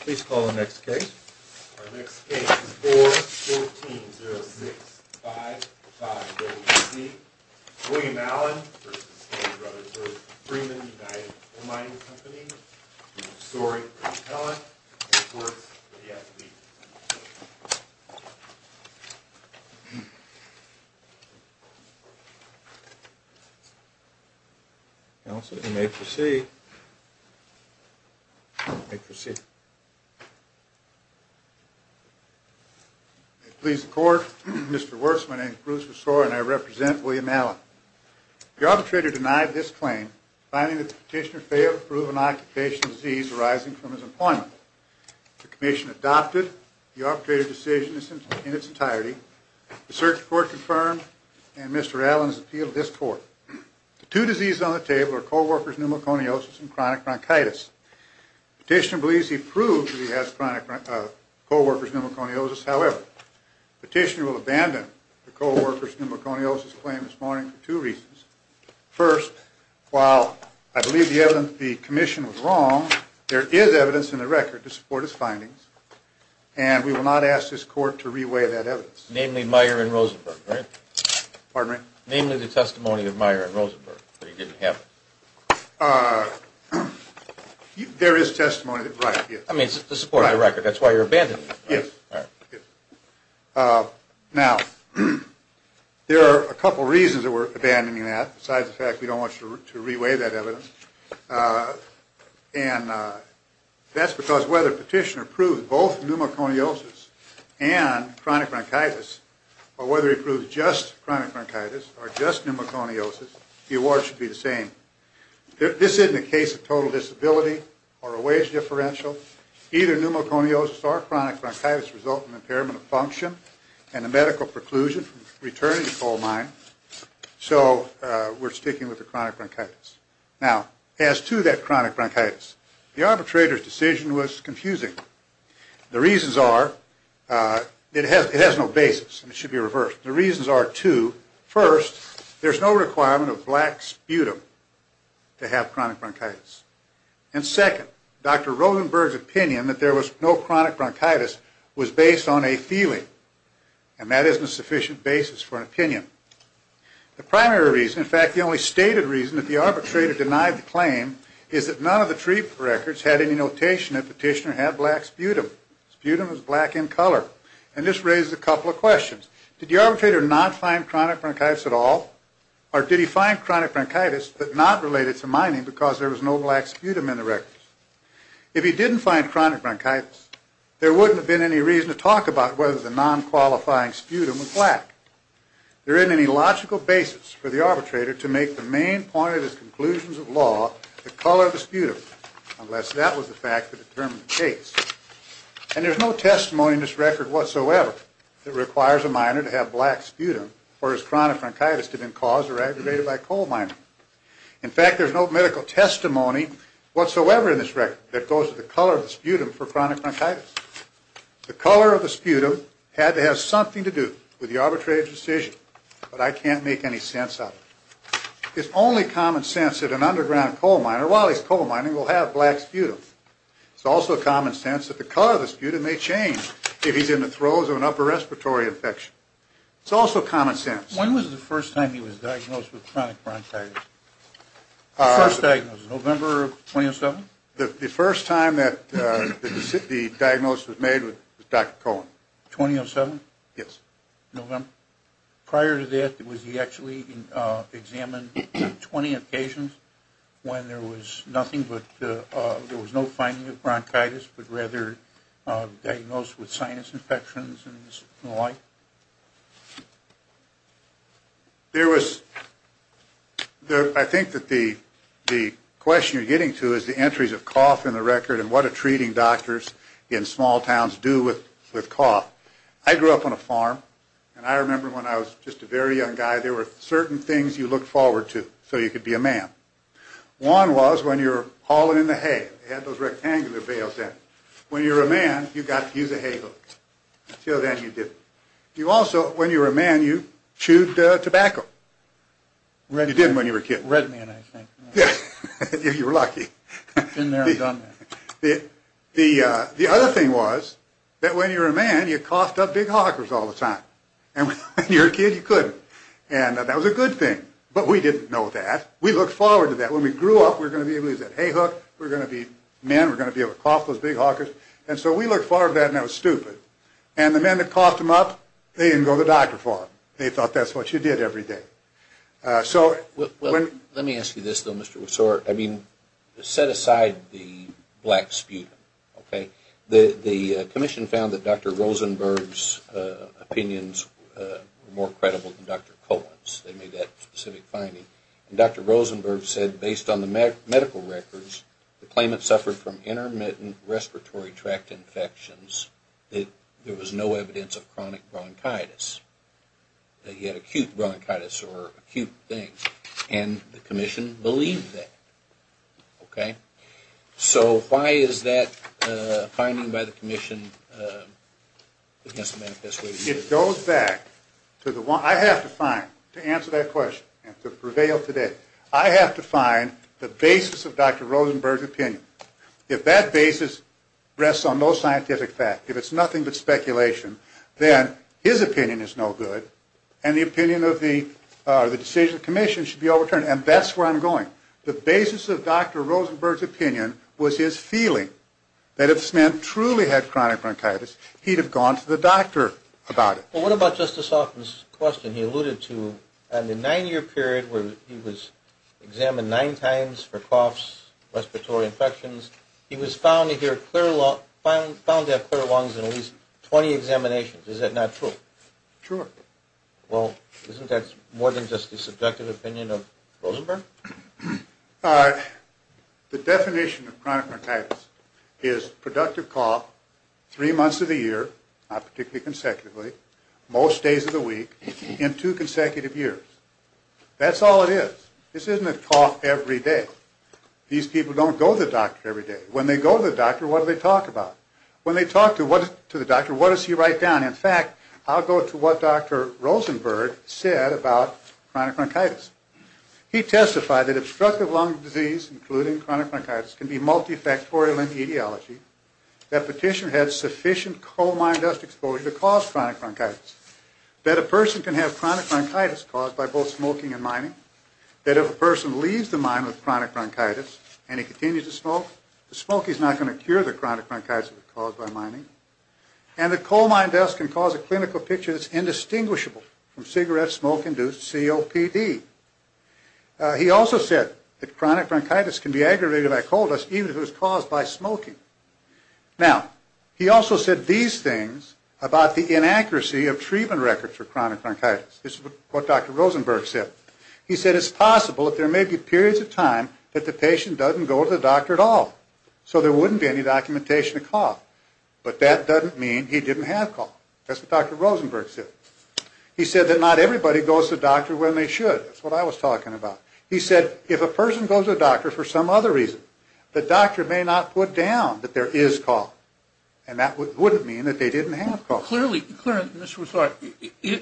Please call the next case. Our next case is 4-14-0-6-5-5-W-C. William Allen v. Freeman United Coal Mining Company. Story. Council, you may proceed. You may proceed. Please the court. Mr. Wurtz, my name is Bruce Versoie and I represent William Allen. The arbitrator denied this claim, finding that the petitioner failed to prove an occupational disease arising from his employment. The commission adopted the arbitrator decision in its entirety. The circuit court confirmed and Mr. Allen's appeal to this court. Two diseases on the table are co-workers' pneumoconiosis and chronic bronchitis. Petitioner believes he proved that he has co-workers' pneumoconiosis. However, petitioner will abandon the co-workers' pneumoconiosis claim this morning for two reasons. First, while I believe the evidence of the commission was wrong, there is evidence in the record to support his findings. And we will not ask this court to reweigh that evidence. Namely Meyer and Rosenberg, right? Pardon me? Namely the testimony of Meyer and Rosenberg, that he didn't have it. There is testimony that, right, yes. I mean, to support the record. That's why you're abandoning it. Yes. Now, there are a couple reasons that we're abandoning that, besides the fact we don't want you to reweigh that evidence. And that's because whether petitioner proved both pneumoconiosis and chronic bronchitis, or whether he proved just chronic bronchitis, or just pneumoconiosis, the award should be the same. This isn't a case of total disability or a wage differential. Either pneumoconiosis or chronic bronchitis result in impairment of function and a medical preclusion from returning to coal mine. So we're sticking with the chronic bronchitis. Now, as to that chronic bronchitis, the arbitrator's decision was confusing. The reasons are, it has no basis. It should be reversed. The reasons are two. First, there's no requirement of black sputum to have chronic bronchitis. And second, Dr. Rosenberg's opinion that there was no chronic bronchitis was based on a feeling. And that isn't a sufficient basis for an opinion. The primary reason, in fact, the only stated reason that the arbitrator denied the claim, is that none of the treatment records had any notation that petitioner had black sputum. Sputum is black in color. And this raises a couple of questions. Did the arbitrator not find chronic bronchitis at all? Or did he find chronic bronchitis, but not related to mining because there was no black sputum in the records? If he didn't find chronic bronchitis, there wouldn't have been any reason to talk about whether the non-qualifying sputum was black. There isn't any logical basis for the arbitrator to make the main point of his conclusions of law the color of the sputum, unless that was the fact that determined the case. And there's no testimony in this record whatsoever that requires a miner to have black sputum for his chronic bronchitis to have been caused or aggravated by coal mining. In fact, there's no medical testimony whatsoever in this record that goes to the color of the sputum for chronic bronchitis. The color of the sputum had to have something to do with the arbitrator's decision, but I can't make any sense of it. It's only common sense that an underground coal miner, while he's coal mining, will have black sputum. It's also common sense that the color of the sputum may change if he's in the throes of an upper respiratory infection. It's also common sense. When was the first time he was diagnosed with chronic bronchitis? The first diagnosis, November of 2007? The first time that the diagnosis was made was Dr. Cohen. 2007? Yes. November? Prior to that, was he actually examined 20 occasions when there was nothing, but there was no finding of bronchitis, but rather diagnosed with sinus infections and the like? There was, I think that the question you're getting to is the entries of cough in the record and what are treating doctors in small towns do with cough? I grew up on a farm, and I remember when I was just a very young guy, there were certain things you looked forward to so you could be a man. One was when you were hauling in the hay. They had those rectangular bales there. When you were a man, you got to use a hay hook. Until then, you didn't. You also, when you were a man, you chewed tobacco. You didn't when you were a kid. Red man, I think. Yes, you were lucky. Been there and done that. The other thing was that when you were a man, you coughed up big hawkers all the time, and when you were a kid, you couldn't, and that was a good thing, but we didn't know that. We looked forward to that. When we grew up, we were going to be able to use that hay hook. We were going to be men. We were going to be able to cough those big hawkers, and so we looked forward to that, and that was stupid, and the men that coughed them up, they didn't go to the doctor for them. They thought that's what you did every day. So, let me ask you this, though, Mr. Wessore. I mean, set aside the black sputum, okay? The commission found that Dr. Rosenberg's opinions were more credible than Dr. Cohen's. They made that specific finding, and Dr. Rosenberg said, based on the medical records, the claimant suffered from intermittent respiratory tract infections, that there was no evidence of chronic bronchitis. He had acute bronchitis, or acute things, and the commission believed that, okay? So, why is that finding by the commission against the manifesto? It goes back to the one, I have to find, to answer that question, and to prevail today, I have to find the basis of Dr. Rosenberg's opinion. If that basis rests on no scientific fact, if it's nothing but speculation, then his opinion is no good, and the opinion of the decision of the commission should be overturned, and that's where I'm going. The basis of Dr. Rosenberg's opinion was his feeling that if this man truly had chronic bronchitis, he'd have gone to the doctor about it. Well, what about Justice Hoffman's question? He alluded to a nine-year period where he was examined nine times for coughs, respiratory infections. He was found to have clear lungs in at least 20 examinations. Is that not true? Sure. Well, isn't that more than just the subjective opinion of Rosenberg? The definition of chronic bronchitis is productive cough three months of the year, not particularly consecutively, most days of the week, in two consecutive years. That's all it is. This isn't a cough every day. These people don't go to the doctor every day. When they go to the doctor, what do they talk about? When they talk to the doctor, what does he write down? In fact, I'll go to what Dr. Rosenberg said about chronic bronchitis. He testified that obstructive lung disease, including chronic bronchitis, can be multifactorial in etiology, that a petitioner had sufficient coal mine dust exposure to cause chronic bronchitis, that a person can have chronic bronchitis caused by both smoking and mining, that if a person leaves the mine with chronic bronchitis and he continues to smoke, the smoke is not going to cure the chronic bronchitis caused by mining, and that coal mine dust can cause a clinical picture that's indistinguishable from cigarette smoke-induced COPD. He also said that chronic bronchitis can be aggravated by coal dust even if it was caused by smoking. Now, he also said these things about the inaccuracy of treatment records for chronic bronchitis. This is what Dr. Rosenberg said. He said it's possible that there may be periods of time that the patient doesn't go to the doctor at all, so there wouldn't be any documentation of cough, but that doesn't mean he didn't have cough. That's what Dr. Rosenberg said. He said that not everybody goes to the doctor when they should. That's what I was talking about. He said if a person goes to the doctor for some other reason, the doctor may not put down that there is cough, Now, clearly,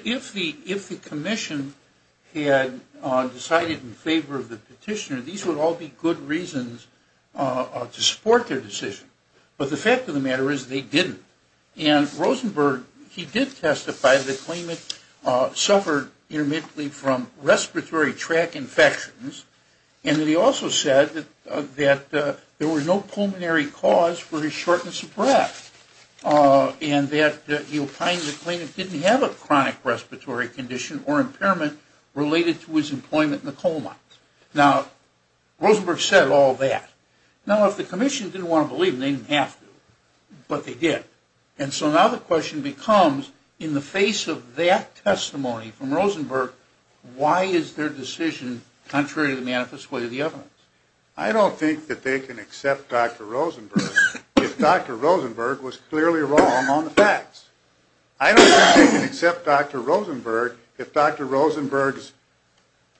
if the commission had decided in favor of the petitioner, these would all be good reasons to support their decision, but the fact of the matter is they didn't. And Rosenberg, he did testify that the claimant suffered intermittently from respiratory tract infections, and that he also said that there was no pulmonary cause for his shortness of breath, and that he opined that the claimant didn't have a chronic respiratory condition or impairment related to his employment in a coma. Now, Rosenberg said all that. Now, if the commission didn't want to believe him, they didn't have to, but they did. And so now the question becomes, in the face of that testimony from Rosenberg, why is their decision contrary to the manifest way of the evidence? I don't think that they can accept Dr. Rosenberg if Dr. Rosenberg was clearly wrong on the facts. I don't think they can accept Dr. Rosenberg if Dr. Rosenberg's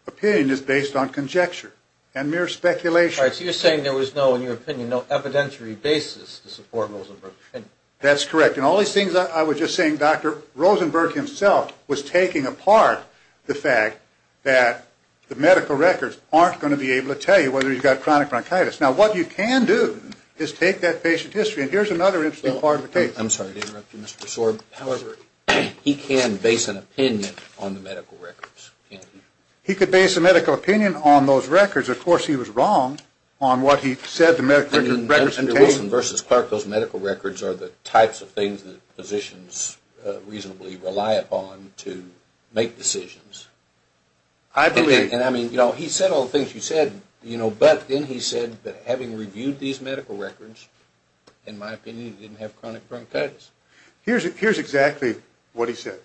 opinion is based on conjecture and mere speculation. All right, so you're saying there was no, in your opinion, no evidentiary basis to support Rosenberg. That's correct, and all these things I was just saying, Dr. Rosenberg himself was taking apart the fact that the medical records aren't going to be able to tell you whether he's got chronic bronchitis. Now, what you can do is take that patient history, and here's another interesting part of the case. I'm sorry to interrupt you, Mr. Sorb. However, he can base an opinion on the medical records, can't he? He could base a medical opinion on those records. Of course, he was wrong on what he said the medical records contained. I mean, Dr. Wilson versus Clark, those medical records are the types of things that physicians reasonably rely upon to make decisions. I believe. And I mean, you know, he said all the things you said, you know, but then he said that having reviewed these medical records, in my opinion, he didn't have chronic bronchitis. Here's exactly what he said.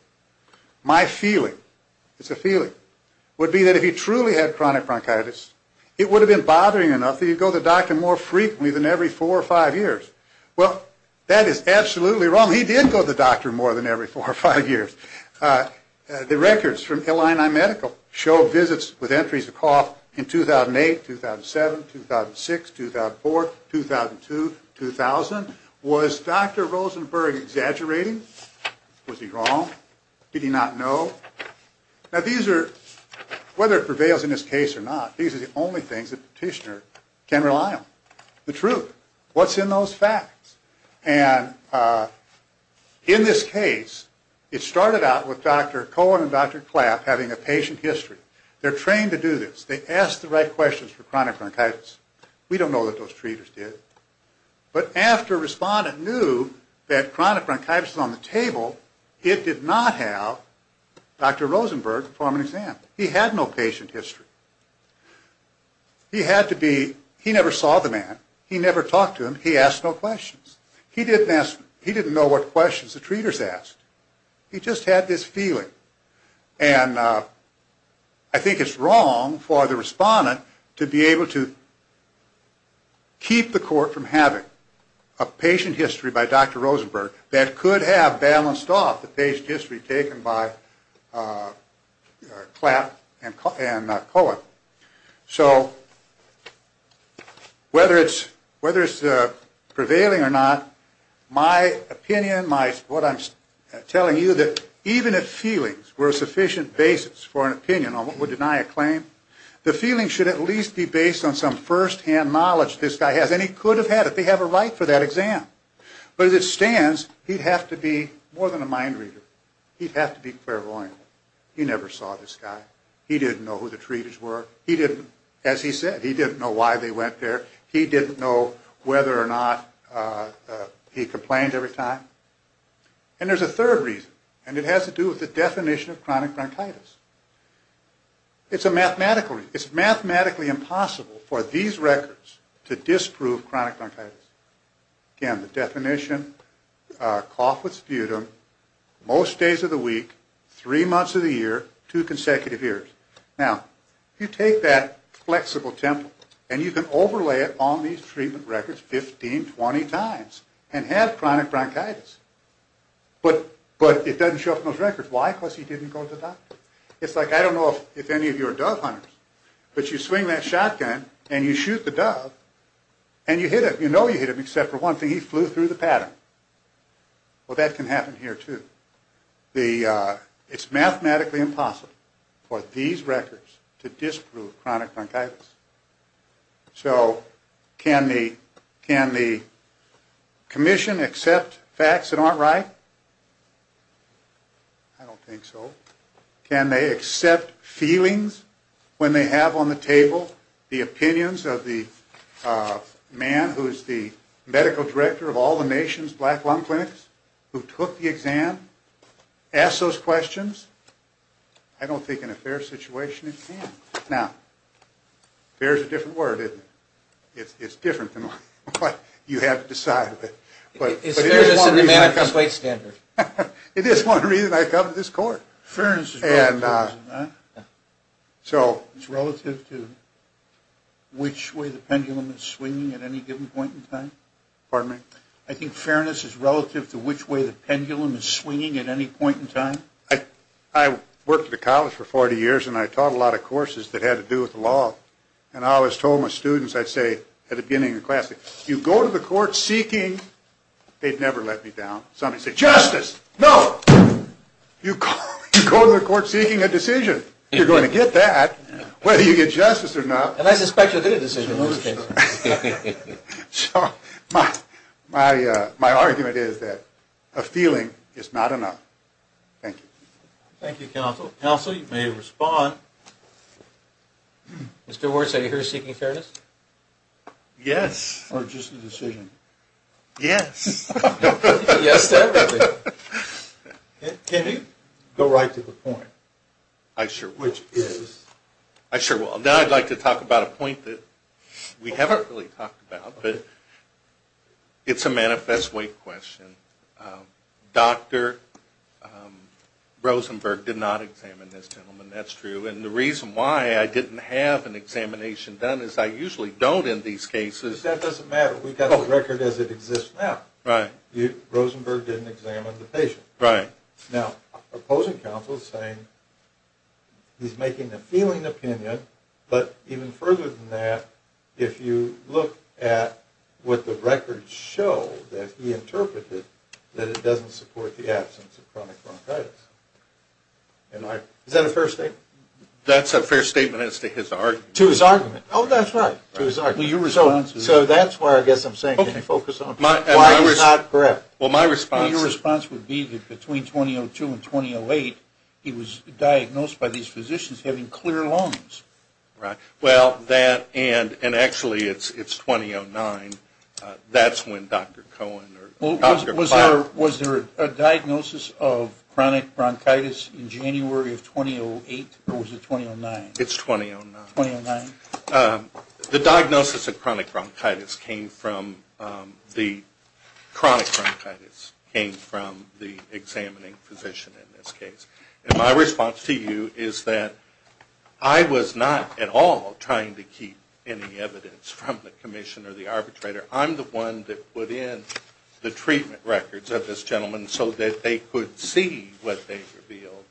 My feeling, it's a feeling, would be that if he truly had chronic bronchitis, it would have been bothering enough that he'd go to the doctor more frequently than every four or five years. Well, that is absolutely wrong. He did go to the doctor more than every four or five years. The records from Illinois Medical show visits with entries of cough in 2008, 2007, 2006, 2004, 2002, 2000. Was Dr. Rosenberg exaggerating? Was he wrong? Did he not know? Now, these are, whether it prevails in this case or not, these are the only things that a petitioner can rely on. The truth. What's in those facts? And in this case, it started out with Dr. Cohen and Dr. Klapp having a patient history. They're trained to do this. They ask the right questions for chronic bronchitis. We don't know that those treaters did. But after a respondent knew that chronic bronchitis was on the table, it did not have Dr. Rosenberg perform an exam. He had no patient history. He had to be, he never saw the man. He never talked to him. He asked no questions. He didn't ask, he didn't know what questions the treaters asked. He just had this feeling. And I think it's wrong for the respondent to be able to keep the court from having a patient history by Dr. Rosenberg that could have balanced off the patient history taken by Klapp and Cohen. So whether it's prevailing or not, my opinion, what I'm telling you, that even if feelings were a sufficient basis for an opinion on what would deny a claim, the feeling should at least be based on some first-hand knowledge this guy has. And he could have had it. They have a right for that exam. But as it stands, he'd have to be more than a mind reader. He'd have to be clairvoyant. He never saw this guy. He didn't know who the treaters were. He didn't, as he said, he didn't know why they went there. He didn't know whether or not he complained every time. And there's a third reason, and it has to do with the definition of chronic bronchitis. It's a mathematical reason. It's mathematically impossible for these records to disprove chronic bronchitis. Again, the definition, cough with sputum, most days of the week, three months of the year, two consecutive years. Now, you take that flexible template, and you can overlay it on these treatment records 15, 20 times and have chronic bronchitis. But it doesn't show up in those records. Why? Because he didn't go to the doctor. It's like, I don't know if any of you are dove hunters, but you swing that shotgun, and you shoot the dove, and you hit him. You know you hit him, except for one thing. He flew through the pattern. Well, that can happen here, too. It's mathematically impossible for these records to disprove chronic bronchitis. So can the commission accept facts that aren't right? I don't think so. Can they accept feelings when they have on the table the opinions of the man who is the medical director of all the nation's black lung clinics, who took the exam, ask those questions? I don't think in a fair situation it can. Now, fair is a different word, isn't it? It's different than what you have to decide. But it is one reason I come to this court. Fairness is relative to which way the pendulum is swinging at any given point in time? Pardon me? I think fairness is relative to which way the pendulum is swinging at any point in time? I worked at a college for 40 years, and I taught a lot of courses that had to do with the law. And I always told my students, I'd say at the beginning of the class, if you go to the court seeking, they'd never let me down. Some would say, justice! No! You go to the court seeking a decision. You're going to get that, whether you get justice or not. And I suspect you'll get a decision most of the time. So my argument is that a feeling is not enough. Thank you. Thank you, counsel. Counsel, you may respond. Mr. Wirtz, are you here seeking fairness? Yes. Or just a decision? Yes. Yes to everything. Can you go right to the point? I sure will. Which is? I sure will. Now I'd like to talk about a point that we haven't really talked about, but it's a manifest way question. Dr. Rosenberg did not examine this gentleman, that's true. And the reason why I didn't have an examination done is I usually don't in these cases. That doesn't matter. We've got the record as it exists now. Right. Rosenberg didn't examine the patient. Right. Now, opposing counsel is saying he's making a feeling opinion, but even further than that, if you look at what the records show that he interpreted, that it doesn't support the absence of chronic bronchitis. Is that a fair statement? That's a fair statement as to his argument. To his argument. Oh, that's right. To his argument. So that's why I guess I'm saying focus on why he's not correct. Well, my response would be that between 2002 and 2008, he was diagnosed by these physicians having clear lungs. Right. Well, that and actually it's 2009. That's when Dr. Cohen or Dr. Bob. Was there a diagnosis of chronic bronchitis in January of 2008 or was it 2009? It's 2009. 2009. The diagnosis of chronic bronchitis came from the examining physician in this case. And my response to you is that I was not at all trying to keep any evidence from the commission or the arbitrator. I'm the one that put in the treatment records of this gentleman so that they could see what they revealed.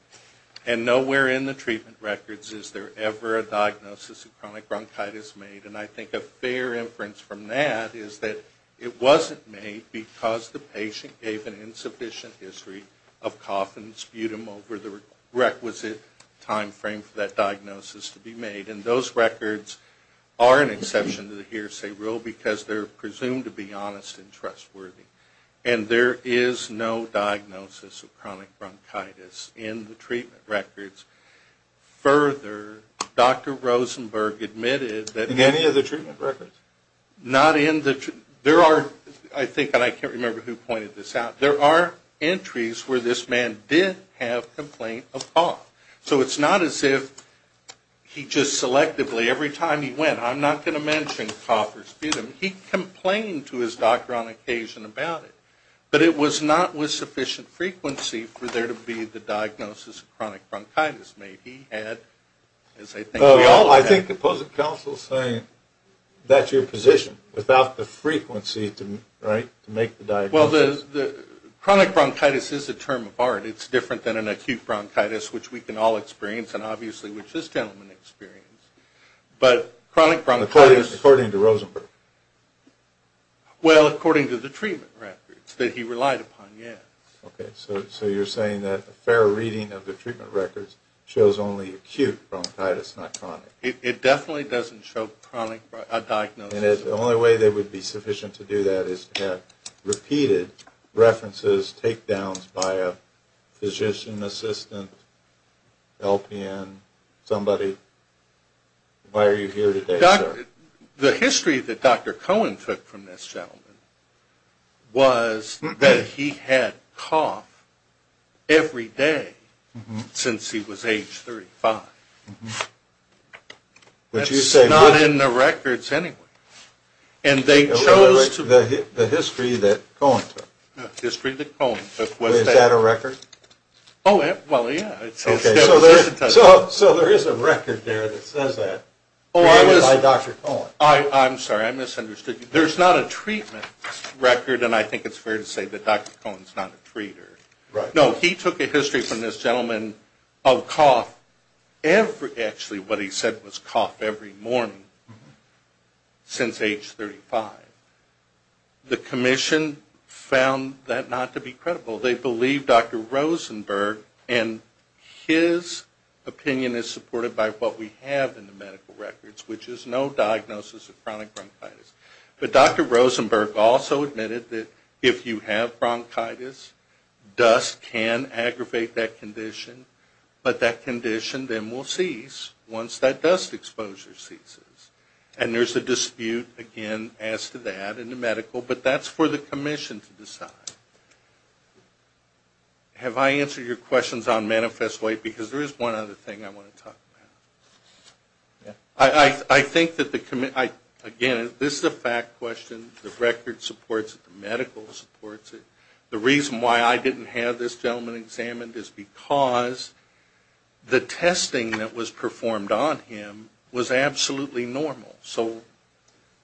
And nowhere in the treatment records is there ever a diagnosis of chronic bronchitis made. And I think a fair inference from that is that it wasn't made because the patient gave an insufficient history of cough and sputum over the requisite timeframe for that diagnosis to be made. And those records are an exception to the hearsay rule because they're presumed to be honest and trustworthy. And there is no diagnosis of chronic bronchitis in the treatment records. Further, Dr. Rosenberg admitted that... In any of the treatment records? Not in the... There are, I think, and I can't remember who pointed this out, there are entries where this man did have complaint of cough. So it's not as if he just selectively, every time he went, I'm not going to mention cough or sputum. He complained to his doctor on occasion about it. But it was not with sufficient frequency for there to be the diagnosis of chronic bronchitis made. He had, as I think we all have... Well, I think the public counsel is saying that's your position, without the frequency to make the diagnosis. Well, the chronic bronchitis is a term of art. It's different than an acute bronchitis, which we can all experience and obviously which this gentleman experienced. But chronic bronchitis... Well, according to the treatment records that he relied upon, yes. Okay, so you're saying that a fair reading of the treatment records shows only acute bronchitis, not chronic. It definitely doesn't show chronic diagnosis. And the only way that would be sufficient to do that is to have repeated references, takedowns by a physician, assistant, LPN, somebody. Why are you here today, sir? The history that Dr. Cohen took from this gentleman was that he had cough every day since he was age 35. That's not in the records anyway. And they chose to... The history that Cohen took. The history that Cohen took. Is that a record? Oh, well, yeah. So there is a record there that says that by Dr. Cohen. I'm sorry. I misunderstood you. There's not a treatment record, and I think it's fair to say that Dr. Cohen's not a treater. No, he took a history from this gentleman of cough every... Actually, what he said was cough every morning since age 35. The commission found that not to be credible. They believe Dr. Rosenberg and his opinion is supported by what we have in the medical records, which is no diagnosis of chronic bronchitis. But Dr. Rosenberg also admitted that if you have bronchitis, dust can aggravate that condition. But that condition then will cease once that dust exposure ceases. And there's a dispute, again, as to that in the medical. But that's for the commission to decide. Have I answered your questions on manifest white? Because there is one other thing I want to talk about. I think that the... Again, this is a fact question. The record supports it. The medical supports it. The reason why I didn't have this gentleman examined is because the testing that was performed on him was absolutely normal. So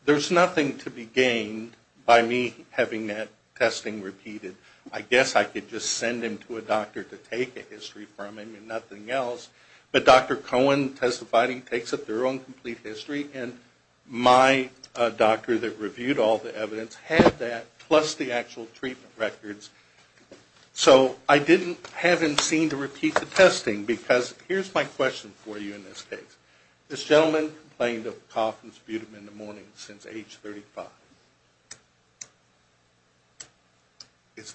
there's nothing to be gained by me having that testing repeated. I guess I could just send him to a doctor to take a history from him and nothing else. But Dr. Cohen testified, he takes up their own complete history. And my doctor that reviewed all the evidence had that, plus the actual treatment records. So I didn't have him seen to repeat the testing. Because here's my question for you in this case. This gentleman complained of cough and sputum in the morning since age 35.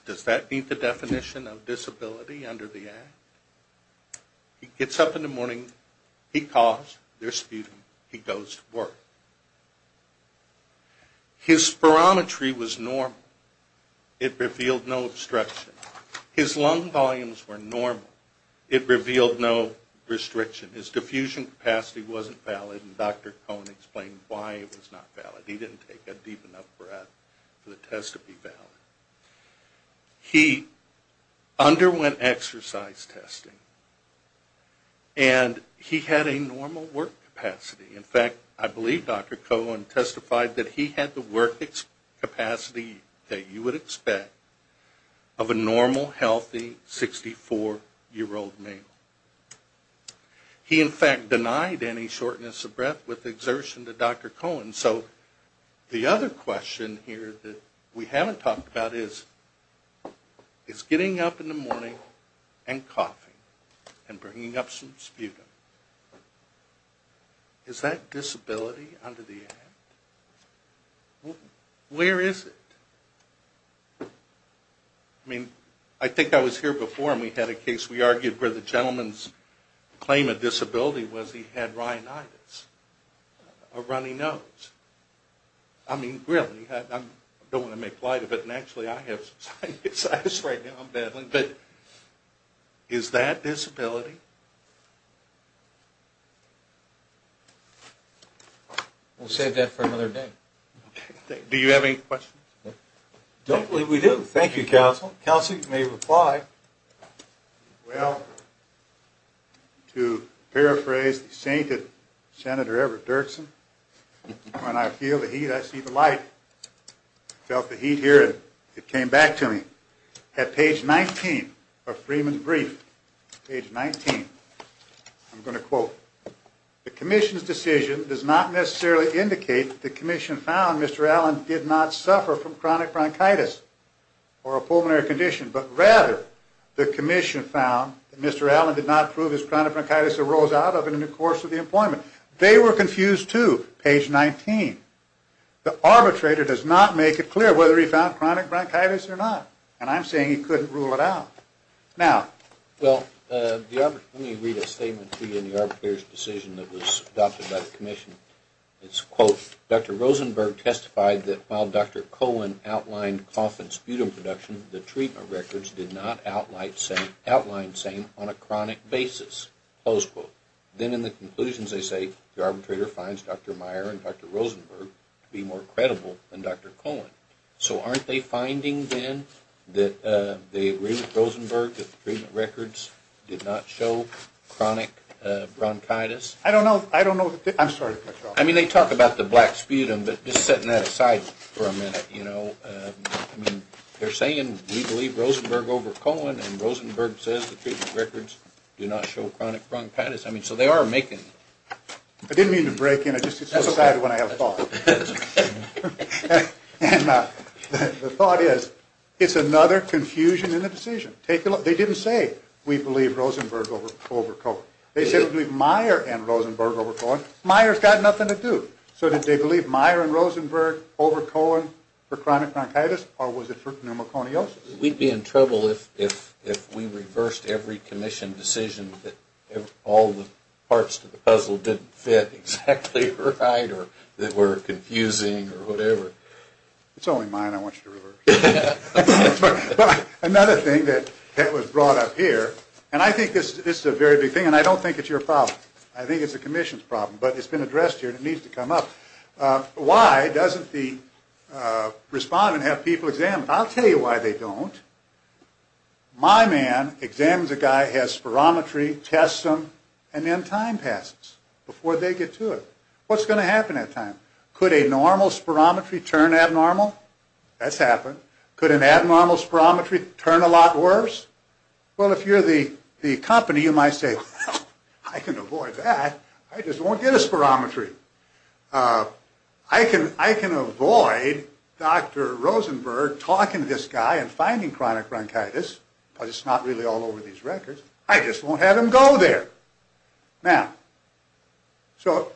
Does that meet the definition of disability under the act? He gets up in the morning, he coughs, there's sputum, he goes to work. His spirometry was normal. It revealed no obstruction. His lung volumes were normal. It revealed no restriction. His diffusion capacity wasn't valid and Dr. Cohen explained why it was not valid. He didn't take a deep enough breath for the test to be valid. He underwent exercise testing. And he had a normal work capacity. In fact, I believe Dr. Cohen testified that he had the work capacity that you would expect of a normal, healthy, 64-year-old male. He in fact denied any shortness of breath with exertion to Dr. Cohen. So the other question here that we haven't talked about is getting up in the morning and coughing and bringing up some sputum. Is that disability under the act? Where is it? I mean, I think I was here before and we had a case where we argued where the gentleman's claim of disability was he had rhinitis. A runny nose. I mean, really. I don't want to make light of it and actually I have rhinitis right now. Is that disability? We'll save that for another day. Do you have any questions? I don't believe we do. Thank you, Counsel. Counsel, you may reply. Well, to paraphrase the sainted Senator Everett Dirksen, when I feel the heat, I see the light. I felt the heat here and it came back to me. At page 19 of Freeman's brief, page 19, I'm going to quote, the commission's decision does not necessarily indicate that the commission found Mr. Allen did not suffer from chronic bronchitis or a pulmonary condition, but rather the commission found that Mr. Allen did not prove his chronic bronchitis arose out of it in the course of the appointment. They were confused too, page 19. The arbitrator does not make it clear whether he found chronic bronchitis or not. And I'm saying he couldn't rule it out. Let me read a statement to you in the arbitrator's decision that was adopted by the commission. It's quote, Dr. Rosenberg testified that while Dr. Cohen outlined cough and sputum production, the treatment records did not outline same on a chronic basis, close quote. Then in the conclusions they say the arbitrator finds Dr. Meyer and Dr. Rosenberg to be more credible than Dr. Cohen. So aren't they finding then that they agree with Rosenberg that the treatment records did not show chronic bronchitis? I don't know. I'm sorry. I mean they talk about the black sputum, but just setting that aside for a minute, you know, they're saying we believe Rosenberg over Cohen and Rosenberg says the treatment records do not show chronic bronchitis. So they are making... I didn't mean to break in. I just decided when I have a thought. And the thought is, it's another confusion in the decision. They didn't say we believe Rosenberg over Cohen. They said we believe Meyer and Rosenberg over Cohen. Meyer's got it. So was it Meyer and Rosenberg over Cohen for chronic bronchitis? Or was it for pneumoconiosis? We'd be in trouble if we reversed every commission decision that all the parts to the puzzle didn't fit exactly right or that were confusing or whatever. It's only mine I want you to reverse. But another thing that was brought up here, and I think this is a very big thing, and I don't think it's your problem. I think it's the commission's problem. But it's been addressed here and it needs to come up. Why doesn't the respondent have people examined? I'll tell you why they don't. My man examines a guy, has spirometry, tests him, and then time passes before they get to it. What's going to happen that time? Could a normal spirometry turn abnormal? That's happened. Could an abnormal spirometry turn a lot worse? Well, if you're the company, you might say, well, I can do this spirometry. I can avoid Dr. Rosenberg talking to this guy and finding chronic bronchitis because it's not really all over these records. I just won't have him go there. Now, so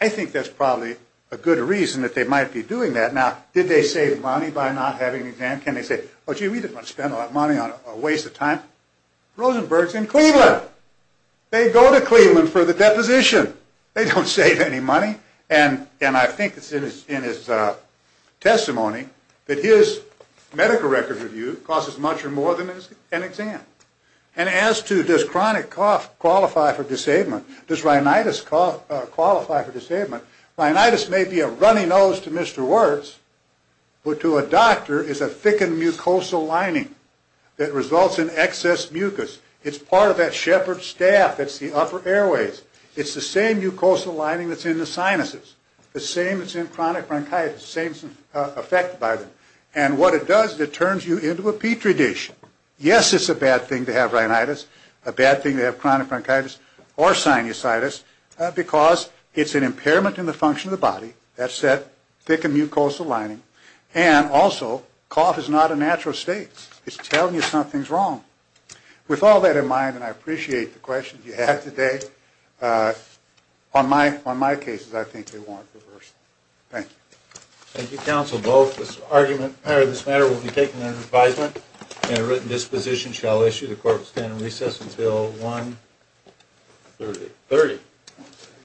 I think that's probably a good reason that they might be doing that. Now, did they save money by not having an exam? Can they say, oh, gee, we didn't want to spend a lot of money on a waste of time? Rosenberg's in Cleveland. They go to Cleveland for the deposition. They don't save any money. And I think it's in his testimony that his medical records review costs as much or more than an exam. And as to does chronic cough qualify for disablement, does rhinitis qualify for disablement? Rhinitis may be a runny nose to Mr. Wirtz, but to a doctor it's a thickened mucosal lining that results in excess mucus. It's part of that shepherd's staff. It's the upper airways. It's the same mucosal lining that's in the sinuses. The same that's in chronic bronchitis. The same affected by them. And what it does is it turns you into a petri dish. Yes, it's a bad thing to have rhinitis. A bad thing to have chronic bronchitis or sinusitis because it's an impairment in the function of the body. That's that thickened mucosal lining. And also cough is not a natural state. It's telling you something's wrong. With all that in mind, and I appreciate the questions you had today, on my cases I think they warrant reversal. Thank you. Thank you, counsel. Both this argument and this matter will be taken under advisement and a written disposition shall issue the court will stand in recess until 1.30.